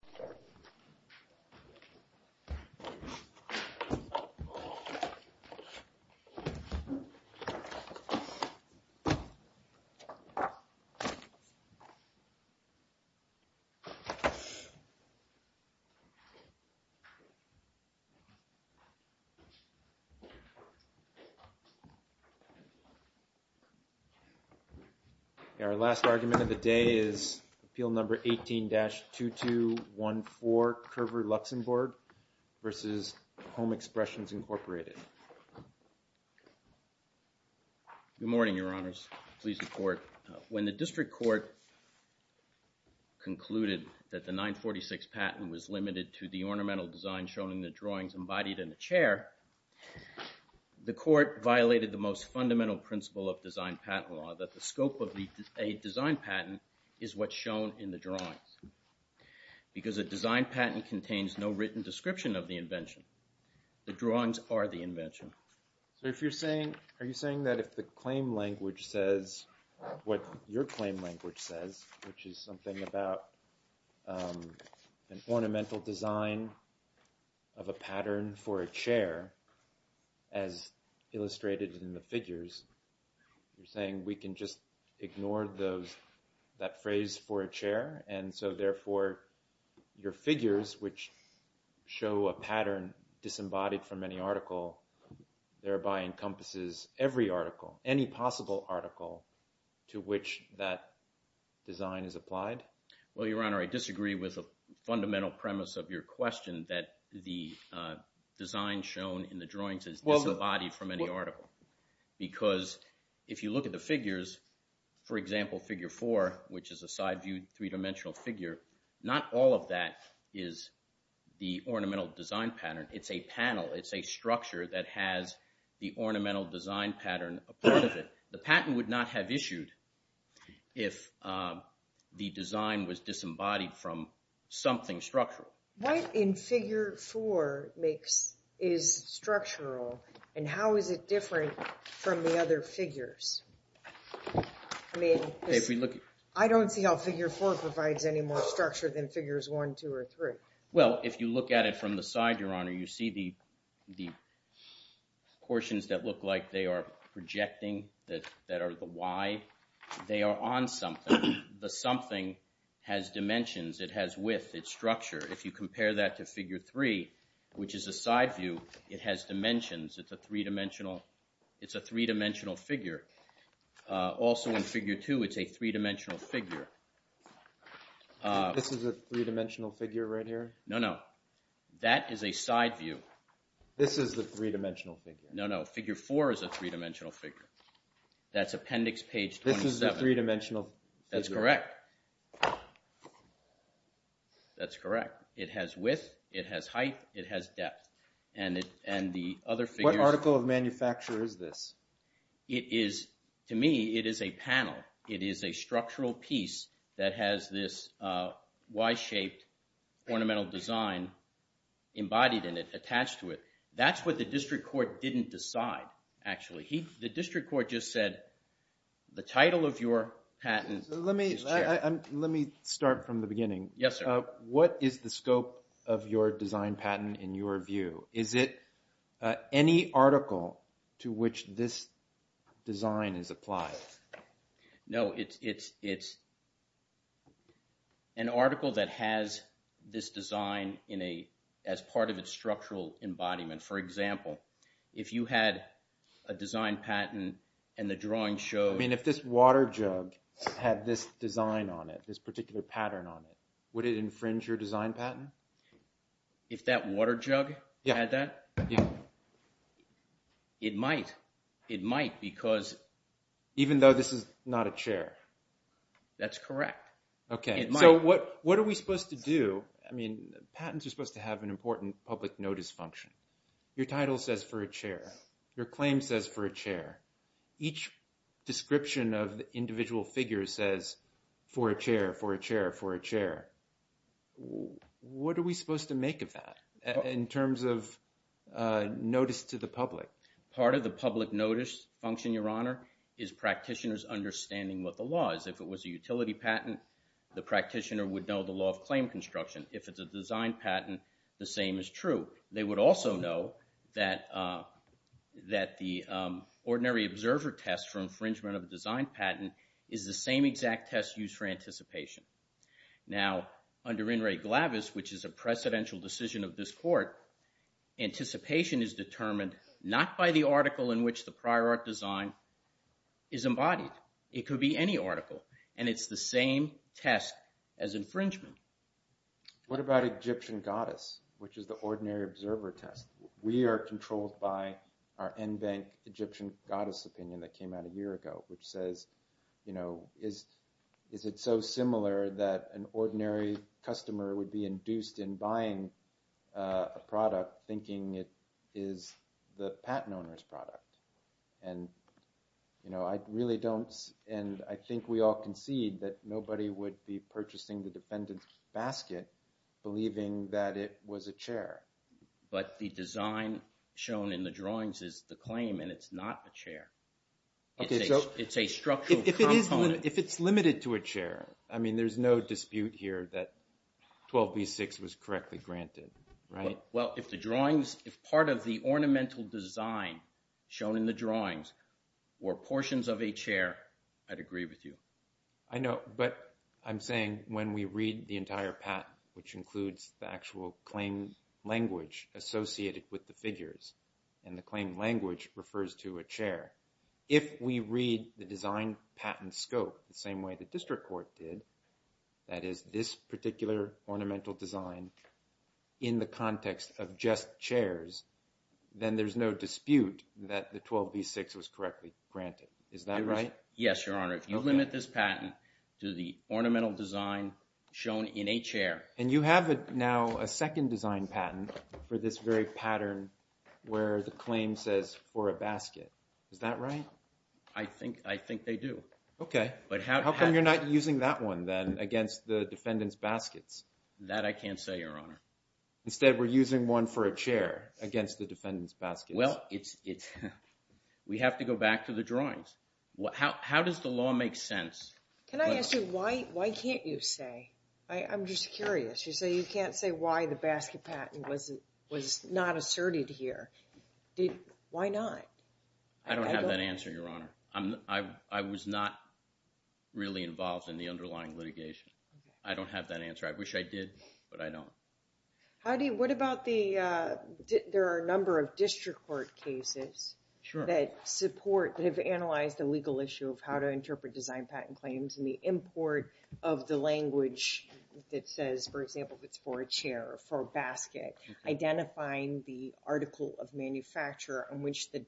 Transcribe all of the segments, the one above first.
Please return to your seats. When the District Court concluded that the 946 patent was limited to the ornamental design shown in the drawings embodied in the chair, the Court violated the most fundamental principle of design patent law, that the scope of a design patent is what's shown in the drawings. Because a design patent contains no written description of the invention, the drawings are the invention. So if you're saying, are you saying that if the claim language says what your claim language says, which is something about an ornamental design of a pattern for a chair, as illustrated in the figures, you're saying we can just ignore that phrase for a chair? And so therefore, your figures, which show a pattern disembodied from any article, thereby encompasses every article, any possible article, to which that design is applied? Well, Your Honor, I disagree with the fundamental premise of your question that the design shown in the drawings is disembodied from any article. Because if you look at the figures, for example, Figure 4, which is a side-viewed three-dimensional figure, not all of that is the ornamental design pattern. It's a panel. It's a structure that has the ornamental design pattern a part of it. The patent would not have issued if the design was disembodied from something structural. What in Figure 4 is structural, and how is it different from the other figures? I mean, I don't see how Figure 4 provides any more structure than Figures 1, 2, or 3. Well, if you look at it from the side, Your Honor, you see the portions that look like they are projecting, that are the Y, they are on something. The something has dimensions. It has width. It's structure. If you compare that to Figure 3, which is a side-view, it has dimensions. It's a three-dimensional figure. Also in Figure 2, it's a three-dimensional figure. This is a three-dimensional figure right here? No, no. That is a side-view. This is a three-dimensional figure? No, no. Figure 4 is a three-dimensional figure. That's Appendix Page 27. This is a three-dimensional figure? That's correct. That's correct. It has width. It has height. It has depth. What article of manufacture is this? To me, it is a panel. It is a structural piece that has this Y-shaped ornamental design embodied in it, attached to it. That's what the district court didn't decide, actually. The district court just said, the title of your patent is shared. Let me start from the beginning. What is the scope of your design patent, in your view? Is it any article to which this design is applied? No, it's an article that has this design as part of its structural embodiment. For example, if you had a design patent, and the drawing shows... I mean, if this water jug had this design on it, this particular pattern on it, would it infringe your design patent? If that water jug had that? It might. It might, because... Even though this is not a chair? That's correct. Okay. It might. So, what are we supposed to do? I mean, patents are supposed to have an important public notice function. Your title says, for a chair. Your claim says, for a chair. Each description of the individual figure says, for a chair, for a chair, for a chair. What are we supposed to make of that, in terms of notice to the public? Part of the public notice function, Your Honor, is practitioners understanding what the law is. If it was a utility patent, the practitioner would know the law of claim construction. If it's a design patent, the same is true. They would also know that the ordinary observer test for infringement of a design patent is the same exact test used for anticipation. Now, under In re Glavis, which is a precedential decision of this court, anticipation is determined not by the article in which the prior art design is embodied. It could be any article. And it's the same test as infringement. What about Egyptian goddess, which is the ordinary observer test? We are controlled by our NBank Egyptian goddess opinion that came out a year ago, which says, you know, is it so similar that an ordinary customer would be induced in buying a product thinking it is the patent owner's product? And, you know, I really don't, and I think we all concede that nobody would be purchasing the defendant's basket believing that it was a chair. But the design shown in the drawings is the claim, and it's not a chair. It's a structural component. If it's limited to a chair, I mean, there's no dispute here that 12B6 was correctly granted, right? Well, if the drawings, if part of the ornamental design shown in the drawings were portions of a chair, I'd agree with you. I know, but I'm saying when we read the entire patent, which includes the actual claim language associated with the figures, and the claim language refers to a chair. If we read the design patent scope the same way the district court did, that is this particular ornamental design in the context of just chairs, then there's no dispute that the 12B6 was correctly granted. Is that right? Yes, Your Honor. If you limit this patent to the ornamental design shown in a chair. And you have now a second design patent for this very pattern where the claim says for a basket. Is that right? I think they do. Okay. How come you're not using that one then against the defendant's baskets? That I can't say, Your Honor. Instead, we're using one for a chair against the defendant's baskets. Well, it's, we have to go back to the drawings. How does the law make sense? Can I ask you, why can't you say? I'm just curious. You say you can't say why the basket patent was not asserted here. Why not? I don't have that answer, Your Honor. I was not really involved in the underlying litigation. I don't have that answer. I wish I did, but I don't. Howdy. What about the, there are a number of district court cases that support, that have analyzed a legal issue of how to interpret design patent claims and the import of the language that says, for example, if it's for a chair or for a basket, identifying the article of manufacturer on which the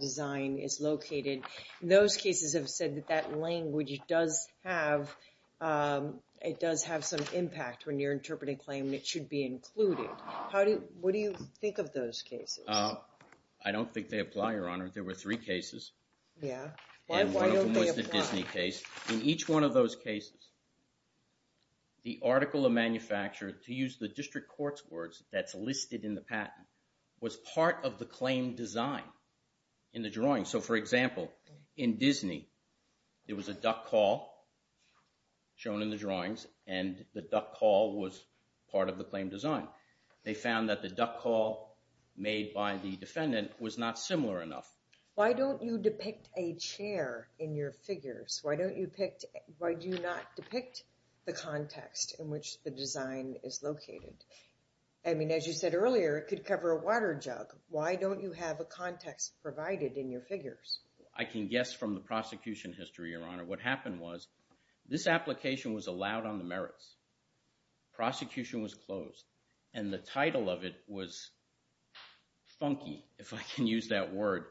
design is located. Those cases have said that that language does have, it does have some impact when you're interpreting a claim that should be included. How do, what do you think of those cases? I don't think they apply, Your Honor. There were three cases. And one of them was the Disney case. And why don't they apply? In each one of those cases, the article of manufacturer, to use the district court's that's listed in the patent, was part of the claim design in the drawing. So for example, in Disney, there was a duck call shown in the drawings and the duck call was part of the claim design. They found that the duck call made by the defendant was not similar enough. Why don't you depict a chair in your figures? Why don't you pick, why do you not depict the context in which the design is located? I mean, as you said earlier, it could cover a water jug. Why don't you have a context provided in your figures? I can guess from the prosecution history, Your Honor, what happened was this application was allowed on the merits. Prosecution was closed and the title of it was funky, if I can use that word.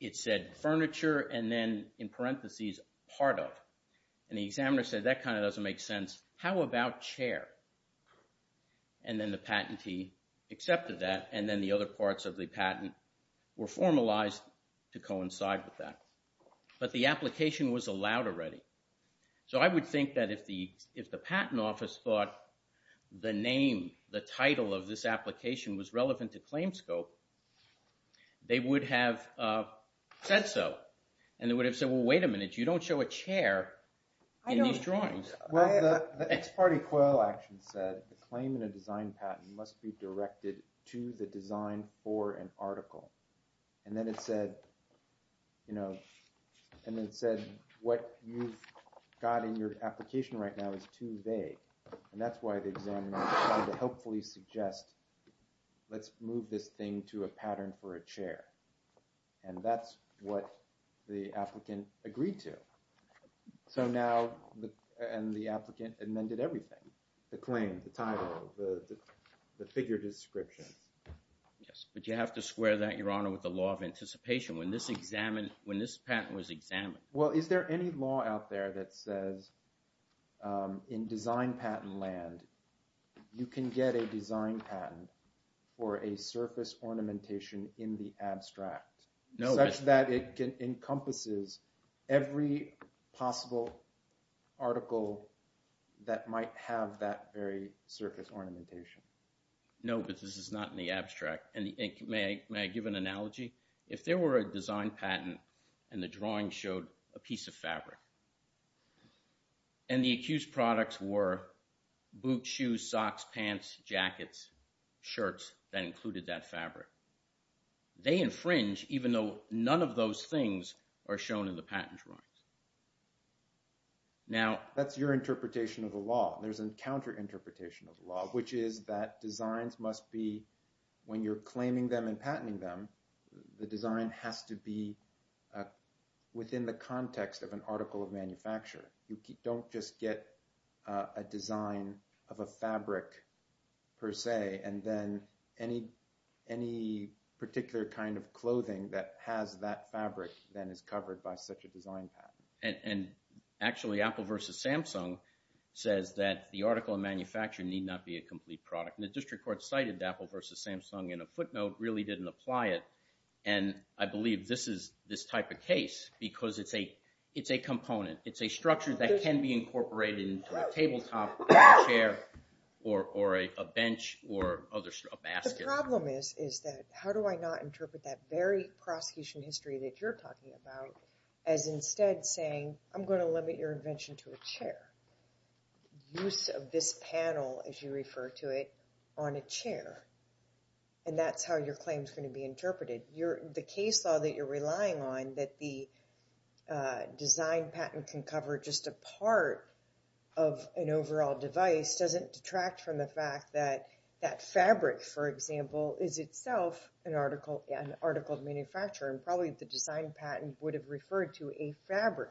It said furniture and then in parentheses, part of, and the examiner said, that kind of doesn't make sense. How about chair? And then the patentee accepted that and then the other parts of the patent were formalized to coincide with that. But the application was allowed already. So I would think that if the patent office thought the name, the title of this application was relevant to claim scope, they would have said so. And they would have said, well, wait a minute, you don't show a chair in these drawings. Well, the ex parte quo action said the claim in a design patent must be directed to the design for an article. And then it said, you know, and it said what you've got in your application right now is too vague. And that's why the examiner tried to hopefully suggest, let's move this thing to a pattern for a chair. And that's what the applicant agreed to. So now the, and the applicant amended everything, the claim, the title, the, the, the figure description. Yes. But you have to square that, Your Honor, with the law of anticipation. When this examined, when this patent was examined. Well, is there any law out there that says in design patent land, you can get a design patent for a surface ornamentation in the abstract, such that it encompasses every possible article that might have that very surface ornamentation? No, but this is not in the abstract. And may I give an analogy? If there were a design patent and the drawing showed a piece of fabric and the accused products were boots, shoes, socks, pants, jackets, shirts that included that fabric, they infringe even though none of those things are shown in the patent drawings. Now that's your interpretation of the law. There's an counter interpretation of the law, which is that designs must be, when you're the design has to be within the context of an article of manufacture. You don't just get a design of a fabric per se, and then any, any particular kind of clothing that has that fabric then is covered by such a design patent. And actually Apple versus Samsung says that the article of manufacture need not be a complete product. The district court cited Apple versus Samsung in a footnote, really didn't apply it. And I believe this is this type of case, because it's a, it's a component. It's a structure that can be incorporated into a tabletop, a chair, or a bench, or other stuff, a basket. The problem is, is that how do I not interpret that very prosecution history that you're talking about, as instead saying, I'm going to limit your invention to a chair. Use of this panel, as you refer to it, on a chair. And that's how your claim is going to be interpreted. The case law that you're relying on, that the design patent can cover just a part of an overall device, doesn't detract from the fact that that fabric, for example, is itself an article, an article of manufacture, and probably the design patent would have referred to a fabric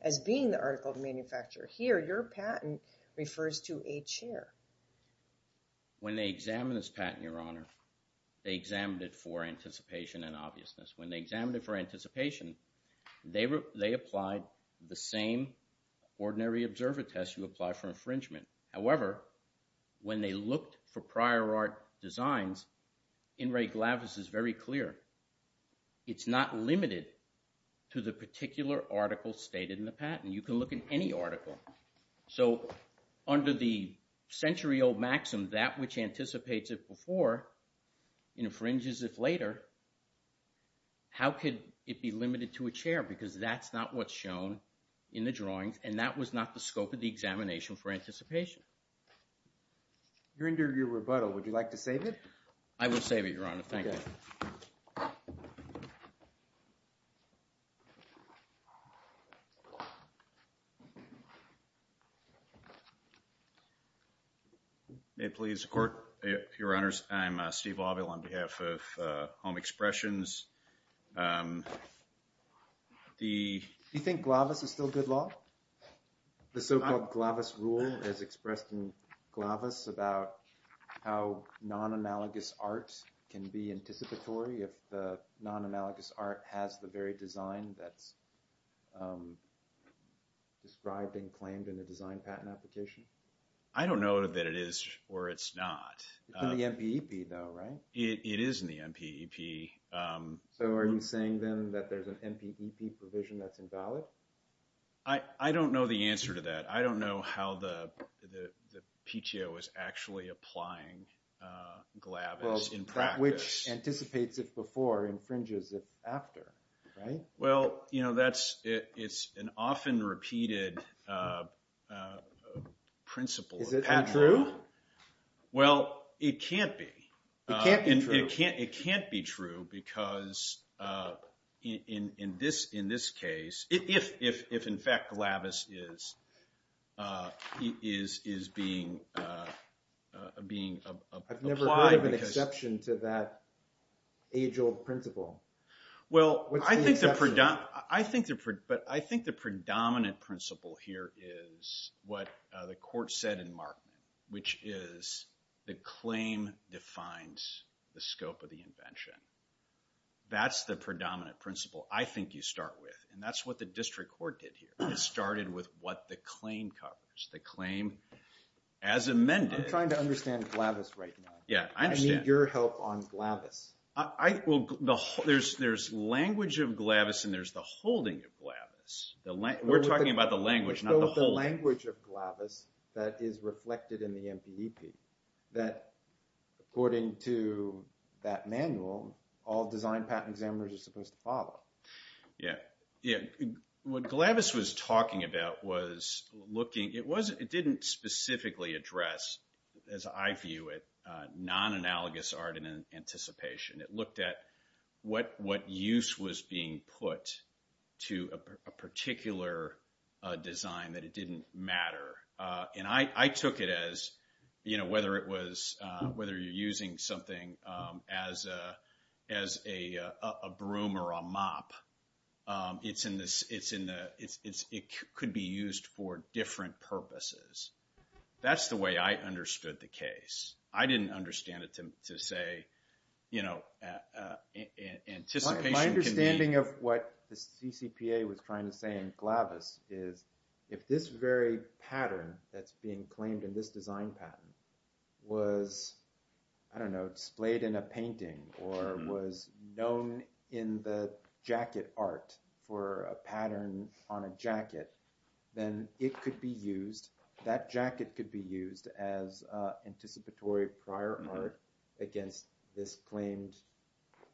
as being the article of manufacture. Here your patent refers to a chair. When they examine this patent, Your Honor, they examined it for anticipation and obviousness. When they examined it for anticipation, they were, they applied the same ordinary observer test you apply for infringement. However, when they looked for prior art designs, In re Glavis is very clear. It's not limited to the particular article stated in the patent. You can look at any article. So under the century old maxim, that which anticipates it before infringes it later, how could it be limited to a chair? Because that's not what's shown in the drawings, and that was not the scope of the examination for anticipation. During your rebuttal, would you like to save it? I will save it, Your Honor. Thank you. Thank you. May it please the Court. Your Honor, I'm Steve Lobville on behalf of Home Expressions. The… Do you think Glavis is still good law? The so-called Glavis rule as expressed in Glavis about how non-analogous arts can be anticipatory if the non-analogous art has the very design that's described and claimed in the design patent application? I don't know that it is or it's not. It's in the MPEP though, right? It is in the MPEP. So are you saying then that there's an MPEP provision that's invalid? I don't know the answer to that. I don't know how the PTO is actually applying Glavis in practice. Which anticipates it before and infringes it after, right? Well, you know, that's… it's an often repeated principle. Is it not true? Well, it can't be. It can't be true? It can't be true because in this case, if in fact Glavis is being applied… Well, I think the predominant principle here is what the court said in Markman, which is the claim defines the scope of the invention. That's the predominant principle I think you start with and that's what the district court did here. It started with what the claim covers. The claim as amended… I'm trying to understand Glavis right now. Yeah, I understand. Your help on Glavis. There's language of Glavis and there's the holding of Glavis. We're talking about the language, not the holding. The language of Glavis that is reflected in the MPEP, that according to that manual, all design patent examiners are supposed to follow. Yeah. What Glavis was talking about was looking… it didn't specifically address, as I view it, non-analogous art in anticipation. It looked at what use was being put to a particular design that it didn't matter. I took it as whether you're using something as a broom or a mop, it could be used for different purposes. That's the way I understood the case. I didn't understand it to say, you know, anticipation can be… My understanding of what the CCPA was trying to say in Glavis is if this very pattern that's being claimed in this design patent was, I don't know, displayed in a painting or was known in the jacket art for a pattern on a jacket, then it could be used, that jacket could be used as anticipatory prior art against this claimed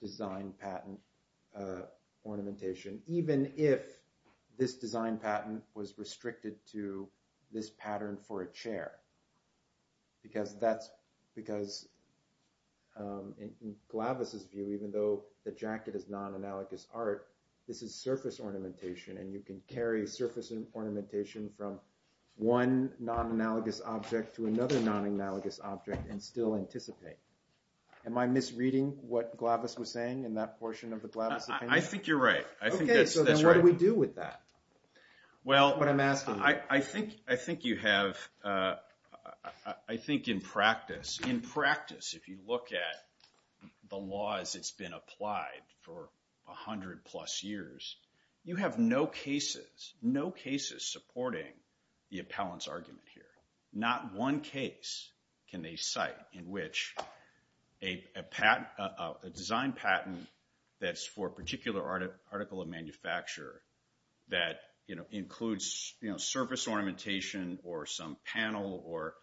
design patent ornamentation, even if this design patent was restricted to this pattern for a chair. Because that's… because in Glavis' view, even though the jacket is non-analogous art, this is surface ornamentation and you can carry surface ornamentation from one non-analogous object to another non-analogous object and still anticipate. Am I misreading what Glavis was saying in that portion of the Glavis opinion? I think you're right. Okay, so what do we do with that? Well… That's what I'm asking. I think you have… I think in practice, if you look at the laws that's been applied for a hundred plus years, you have no cases, no cases supporting the appellant's argument here. Not one case can they cite in which a design patent that's for a particular article of manufacture that includes surface ornamentation or some panel or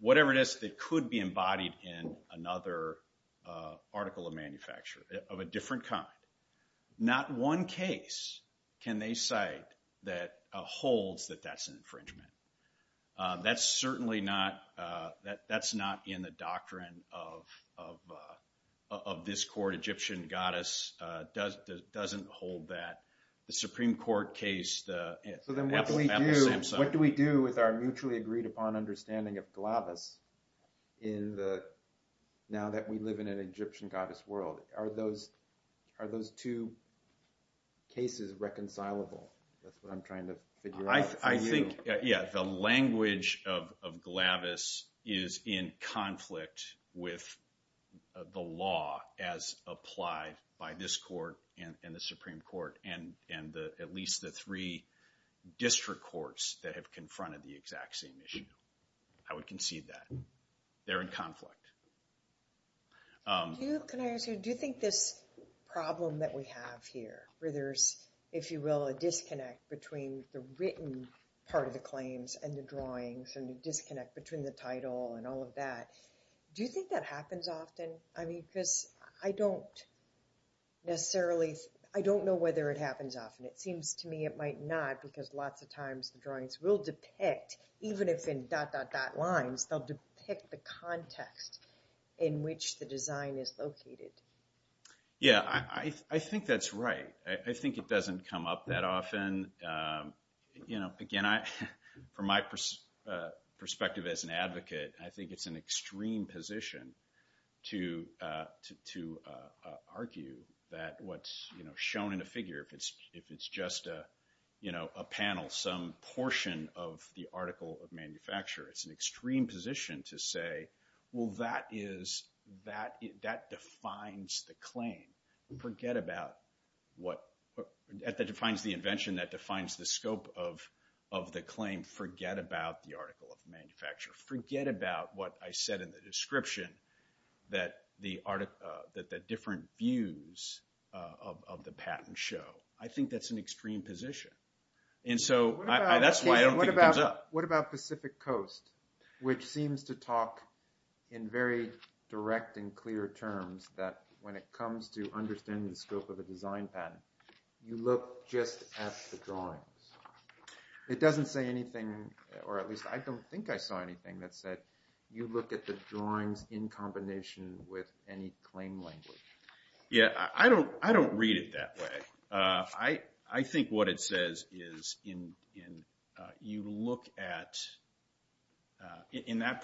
whatever it is that could be embodied in another article of manufacture of a different kind. Not one case can they cite that holds that that's an infringement. That's certainly not… That's not in the doctrine of this court. Egyptian goddess doesn't hold that. The Supreme Court case… So then what do we do with our mutually agreed upon understanding of Glavis now that we live in an Egyptian goddess world? Are those two cases reconcilable? That's what I'm trying to figure out for you. I think, yeah, the language of Glavis is in conflict with the law as applied by this court and the Supreme Court and at least the three district courts that have confronted the exact same issue. I would concede that. They're in conflict. Can I ask you, do you think this problem that we have here, where there's, if you will, a disconnect between the written part of the claims and the drawings and the disconnect between the title and all of that, do you think that happens often? I mean, because I don't necessarily… I don't know whether it happens often. It seems to me it might not because lots of times the drawings will depict, even if in dot, dot, dot lines, they'll depict the context in which the design is located. Yeah, I think that's right. I think it doesn't come up that often. Again, from my perspective as an advocate, I think it's an extreme position to argue that what's shown in a figure, if it's just a panel, some portion of the article of manufacture, it's an extreme position to say, well, that defines the claim. Forget about what, that defines the invention, that defines the scope of the claim. Forget about the article of manufacture. Forget about what I said in the description that the different views of the patent show. I think that's an extreme position. And so, that's why I don't think it comes up. What about Pacific Coast, which seems to talk in very direct and clear terms that when it comes to understanding the scope of the design patent, you look just at the drawings. It doesn't say anything, or at least I don't think I saw anything that said you look at the drawings in combination with any claim language. Yeah, I don't read it that way. I think what it says is you look at, in that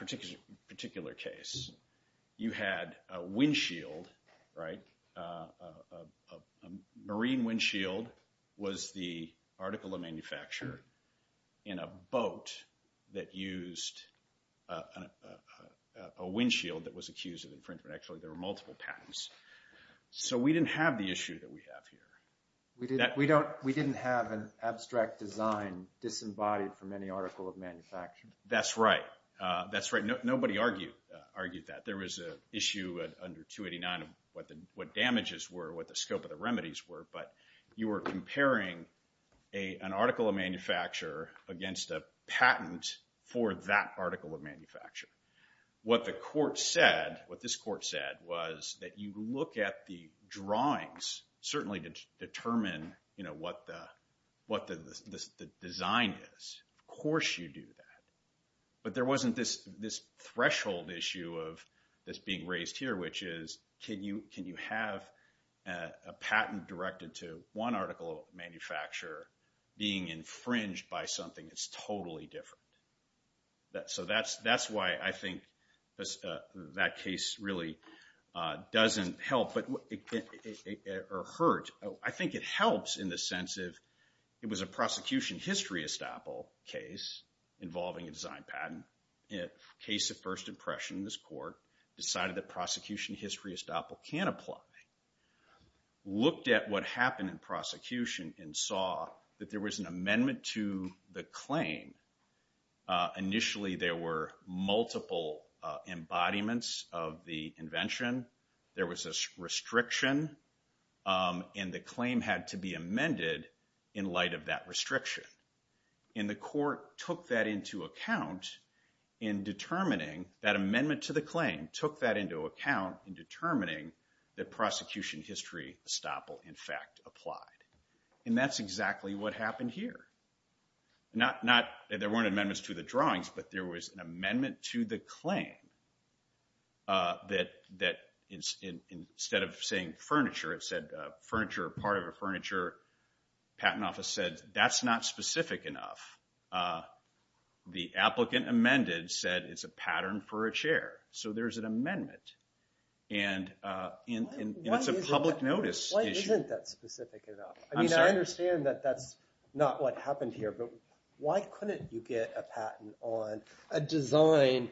particular case, you had a windshield, a marine windshield was the article of manufacture in a boat that used a windshield that was accused of infringement. Actually, there were multiple patents. So, we didn't have the issue that we have here. We didn't have an abstract design disembodied from any article of manufacture. That's right. That's right. Nobody argued that. There was an issue under 289 of what damages were, what the scope of the remedies were, but you were comparing an article of manufacture against a patent for that article of manufacture. What the court said, what this court said, was that you look at the drawings, certainly to determine what the design is. Of course you do that. But there wasn't this threshold issue of this being raised here, which is can you have a patent directed to one article of manufacture being infringed by something that's totally different. So, that's why I think that case really doesn't help or hurt. I think it helps in the sense of it was a prosecution history estoppel case involving a design patent. In a case of first impression, this court decided that prosecution history estoppel can apply. Looked at what happened in prosecution and saw that there was an amendment to the claim. Initially, there were multiple embodiments of the invention. There was a restriction and the claim had to be amended in light of that restriction. And the court took that into account in determining that amendment to the claim took that into account in determining that prosecution history estoppel in fact applied. And that's exactly what happened here. There weren't amendments to the drawings, but there was an amendment to the claim that instead of saying furniture, it said furniture or part of a furniture patent office said that's not specific enough. The applicant amended said it's a pattern for a chair. So, there's an amendment. And it's a public notice issue. Why isn't that specific enough? I understand that that's not what happened here, but why couldn't you get a patent on a design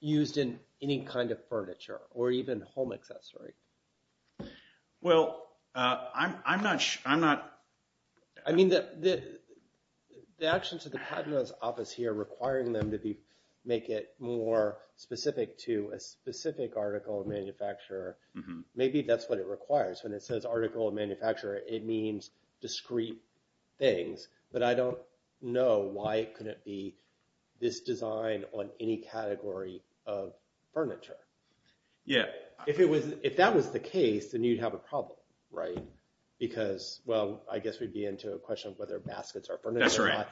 used in any kind of furniture or even home accessory? Well, I'm not sure. I mean, the actions of the patent office here requiring them to make it more specific to a specific article of manufacture, maybe that's what it requires. When it says article of manufacture, it means discrete things. But I don't know why it couldn't be this design on any category of furniture. If that was the case, then you'd have a problem, right? Because, well, I guess we'd be into a question of whether baskets are furniture or not.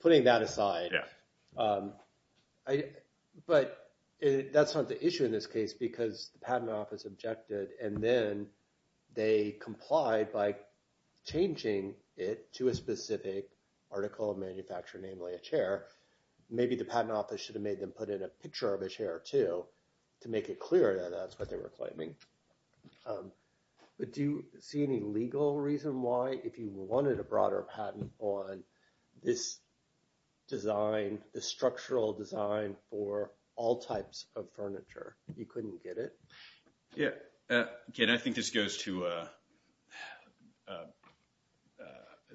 Putting that aside. But that's not the issue in this case because the patent office objected and then they complied by changing it to a specific article of manufacture, namely a chair. Maybe the patent office should have made them put in a picture of a chair, too, to make it clear that that's what they were claiming. But do you see any legal reason why, if you wanted a broader patent on this design, this structural design for all types of furniture, you couldn't get it? Yeah. Again, I think this goes to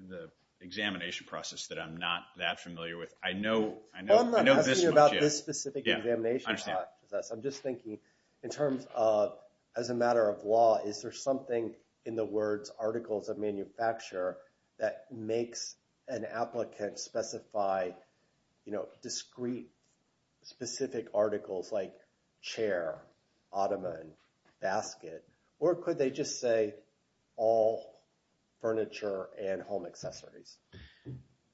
the examination process that I'm not that familiar with. I know this much. I'm not asking you about this specific examination process. I'm just thinking in terms of, as a matter of law, is there something in the words articles of manufacture that makes an applicant specify discrete, specific articles like chair, ottoman, basket? Or could they just say all furniture and home accessories?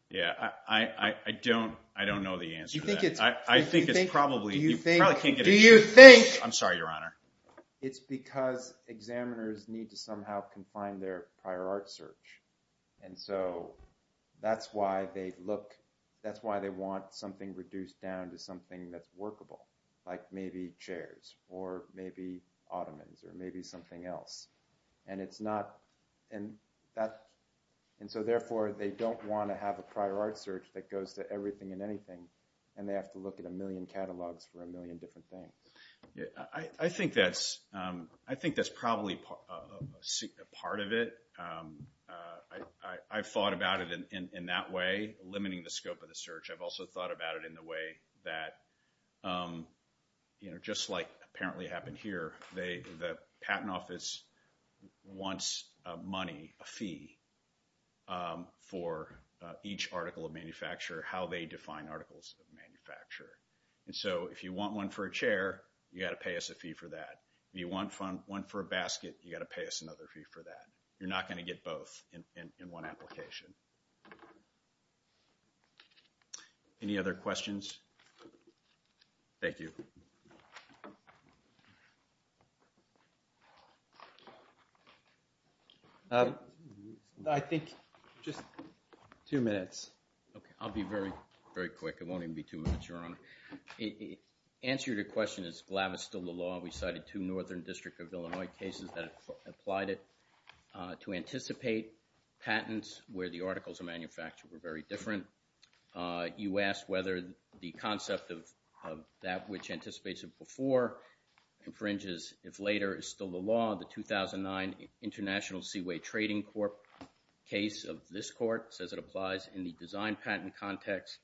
Yeah. I don't know the answer to that. I think it's probably... Do you think... I'm sorry, Your Honor. It's because examiners need to somehow confine their prior art search. And so that's why they look... that's why they want something reduced down to something that's workable, like maybe chairs, or maybe ottomans, or maybe something else. And it's not... And so therefore, they don't want to have a prior art search that goes to everything and anything. And they have to look at a million catalogs for a million different things. I think that's probably a part of it. I've thought about it in that way, limiting the scope of the search. I've also thought about it in the way that just like apparently happened here, the patent office wants money, a fee, for each article of manufacture, how they define articles of manufacture. And so if you want one for a chair, you've got to pay us a fee for that. If you want one for a basket, you've got to pay us another fee for that. You're not going to get both in one application. Any other questions? Thank you. I think... Just two minutes. I'll be very quick. It won't even be two minutes, Your Honor. The answer to your question is GLAV is still the law. We cited two Northern District of Illinois cases that applied it to anticipate patents where the articles of manufacture were very different. You asked whether the concept of that which anticipates it before infringes if later is still the law. The 2009 International Seaway Trading Corp case of this court says it applies in the design patent context.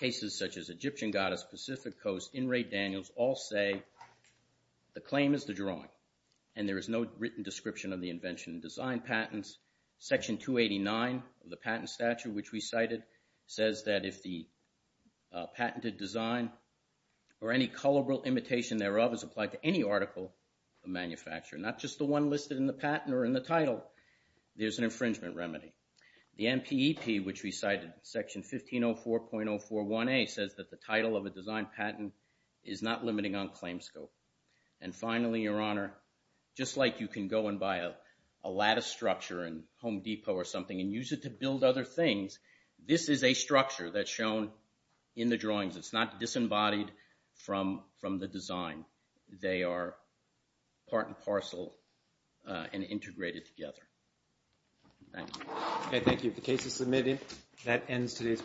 Cases such as Egyptian Goddess, Pacific Coast, In Ray Daniels, all say the claim is the drawing and there is no written description of the invention and design patents. Section 289 of the patent statute which we cited says that if the patented design or any colorable imitation thereof is applied to any article of manufacture, not just the one listed in the patent or in the title, there's an infringement remedy. The NPEP which we cited, Section 1504.041A, says that the title of a design patent is not limiting on claim scope. And finally, Your Honor, just like you can go and buy a lattice structure in Home Depot or something and use it to build other things, this is a structure that's shown in the drawings. It's not disembodied from the design. They are part and parcel and integrated together. Thank you.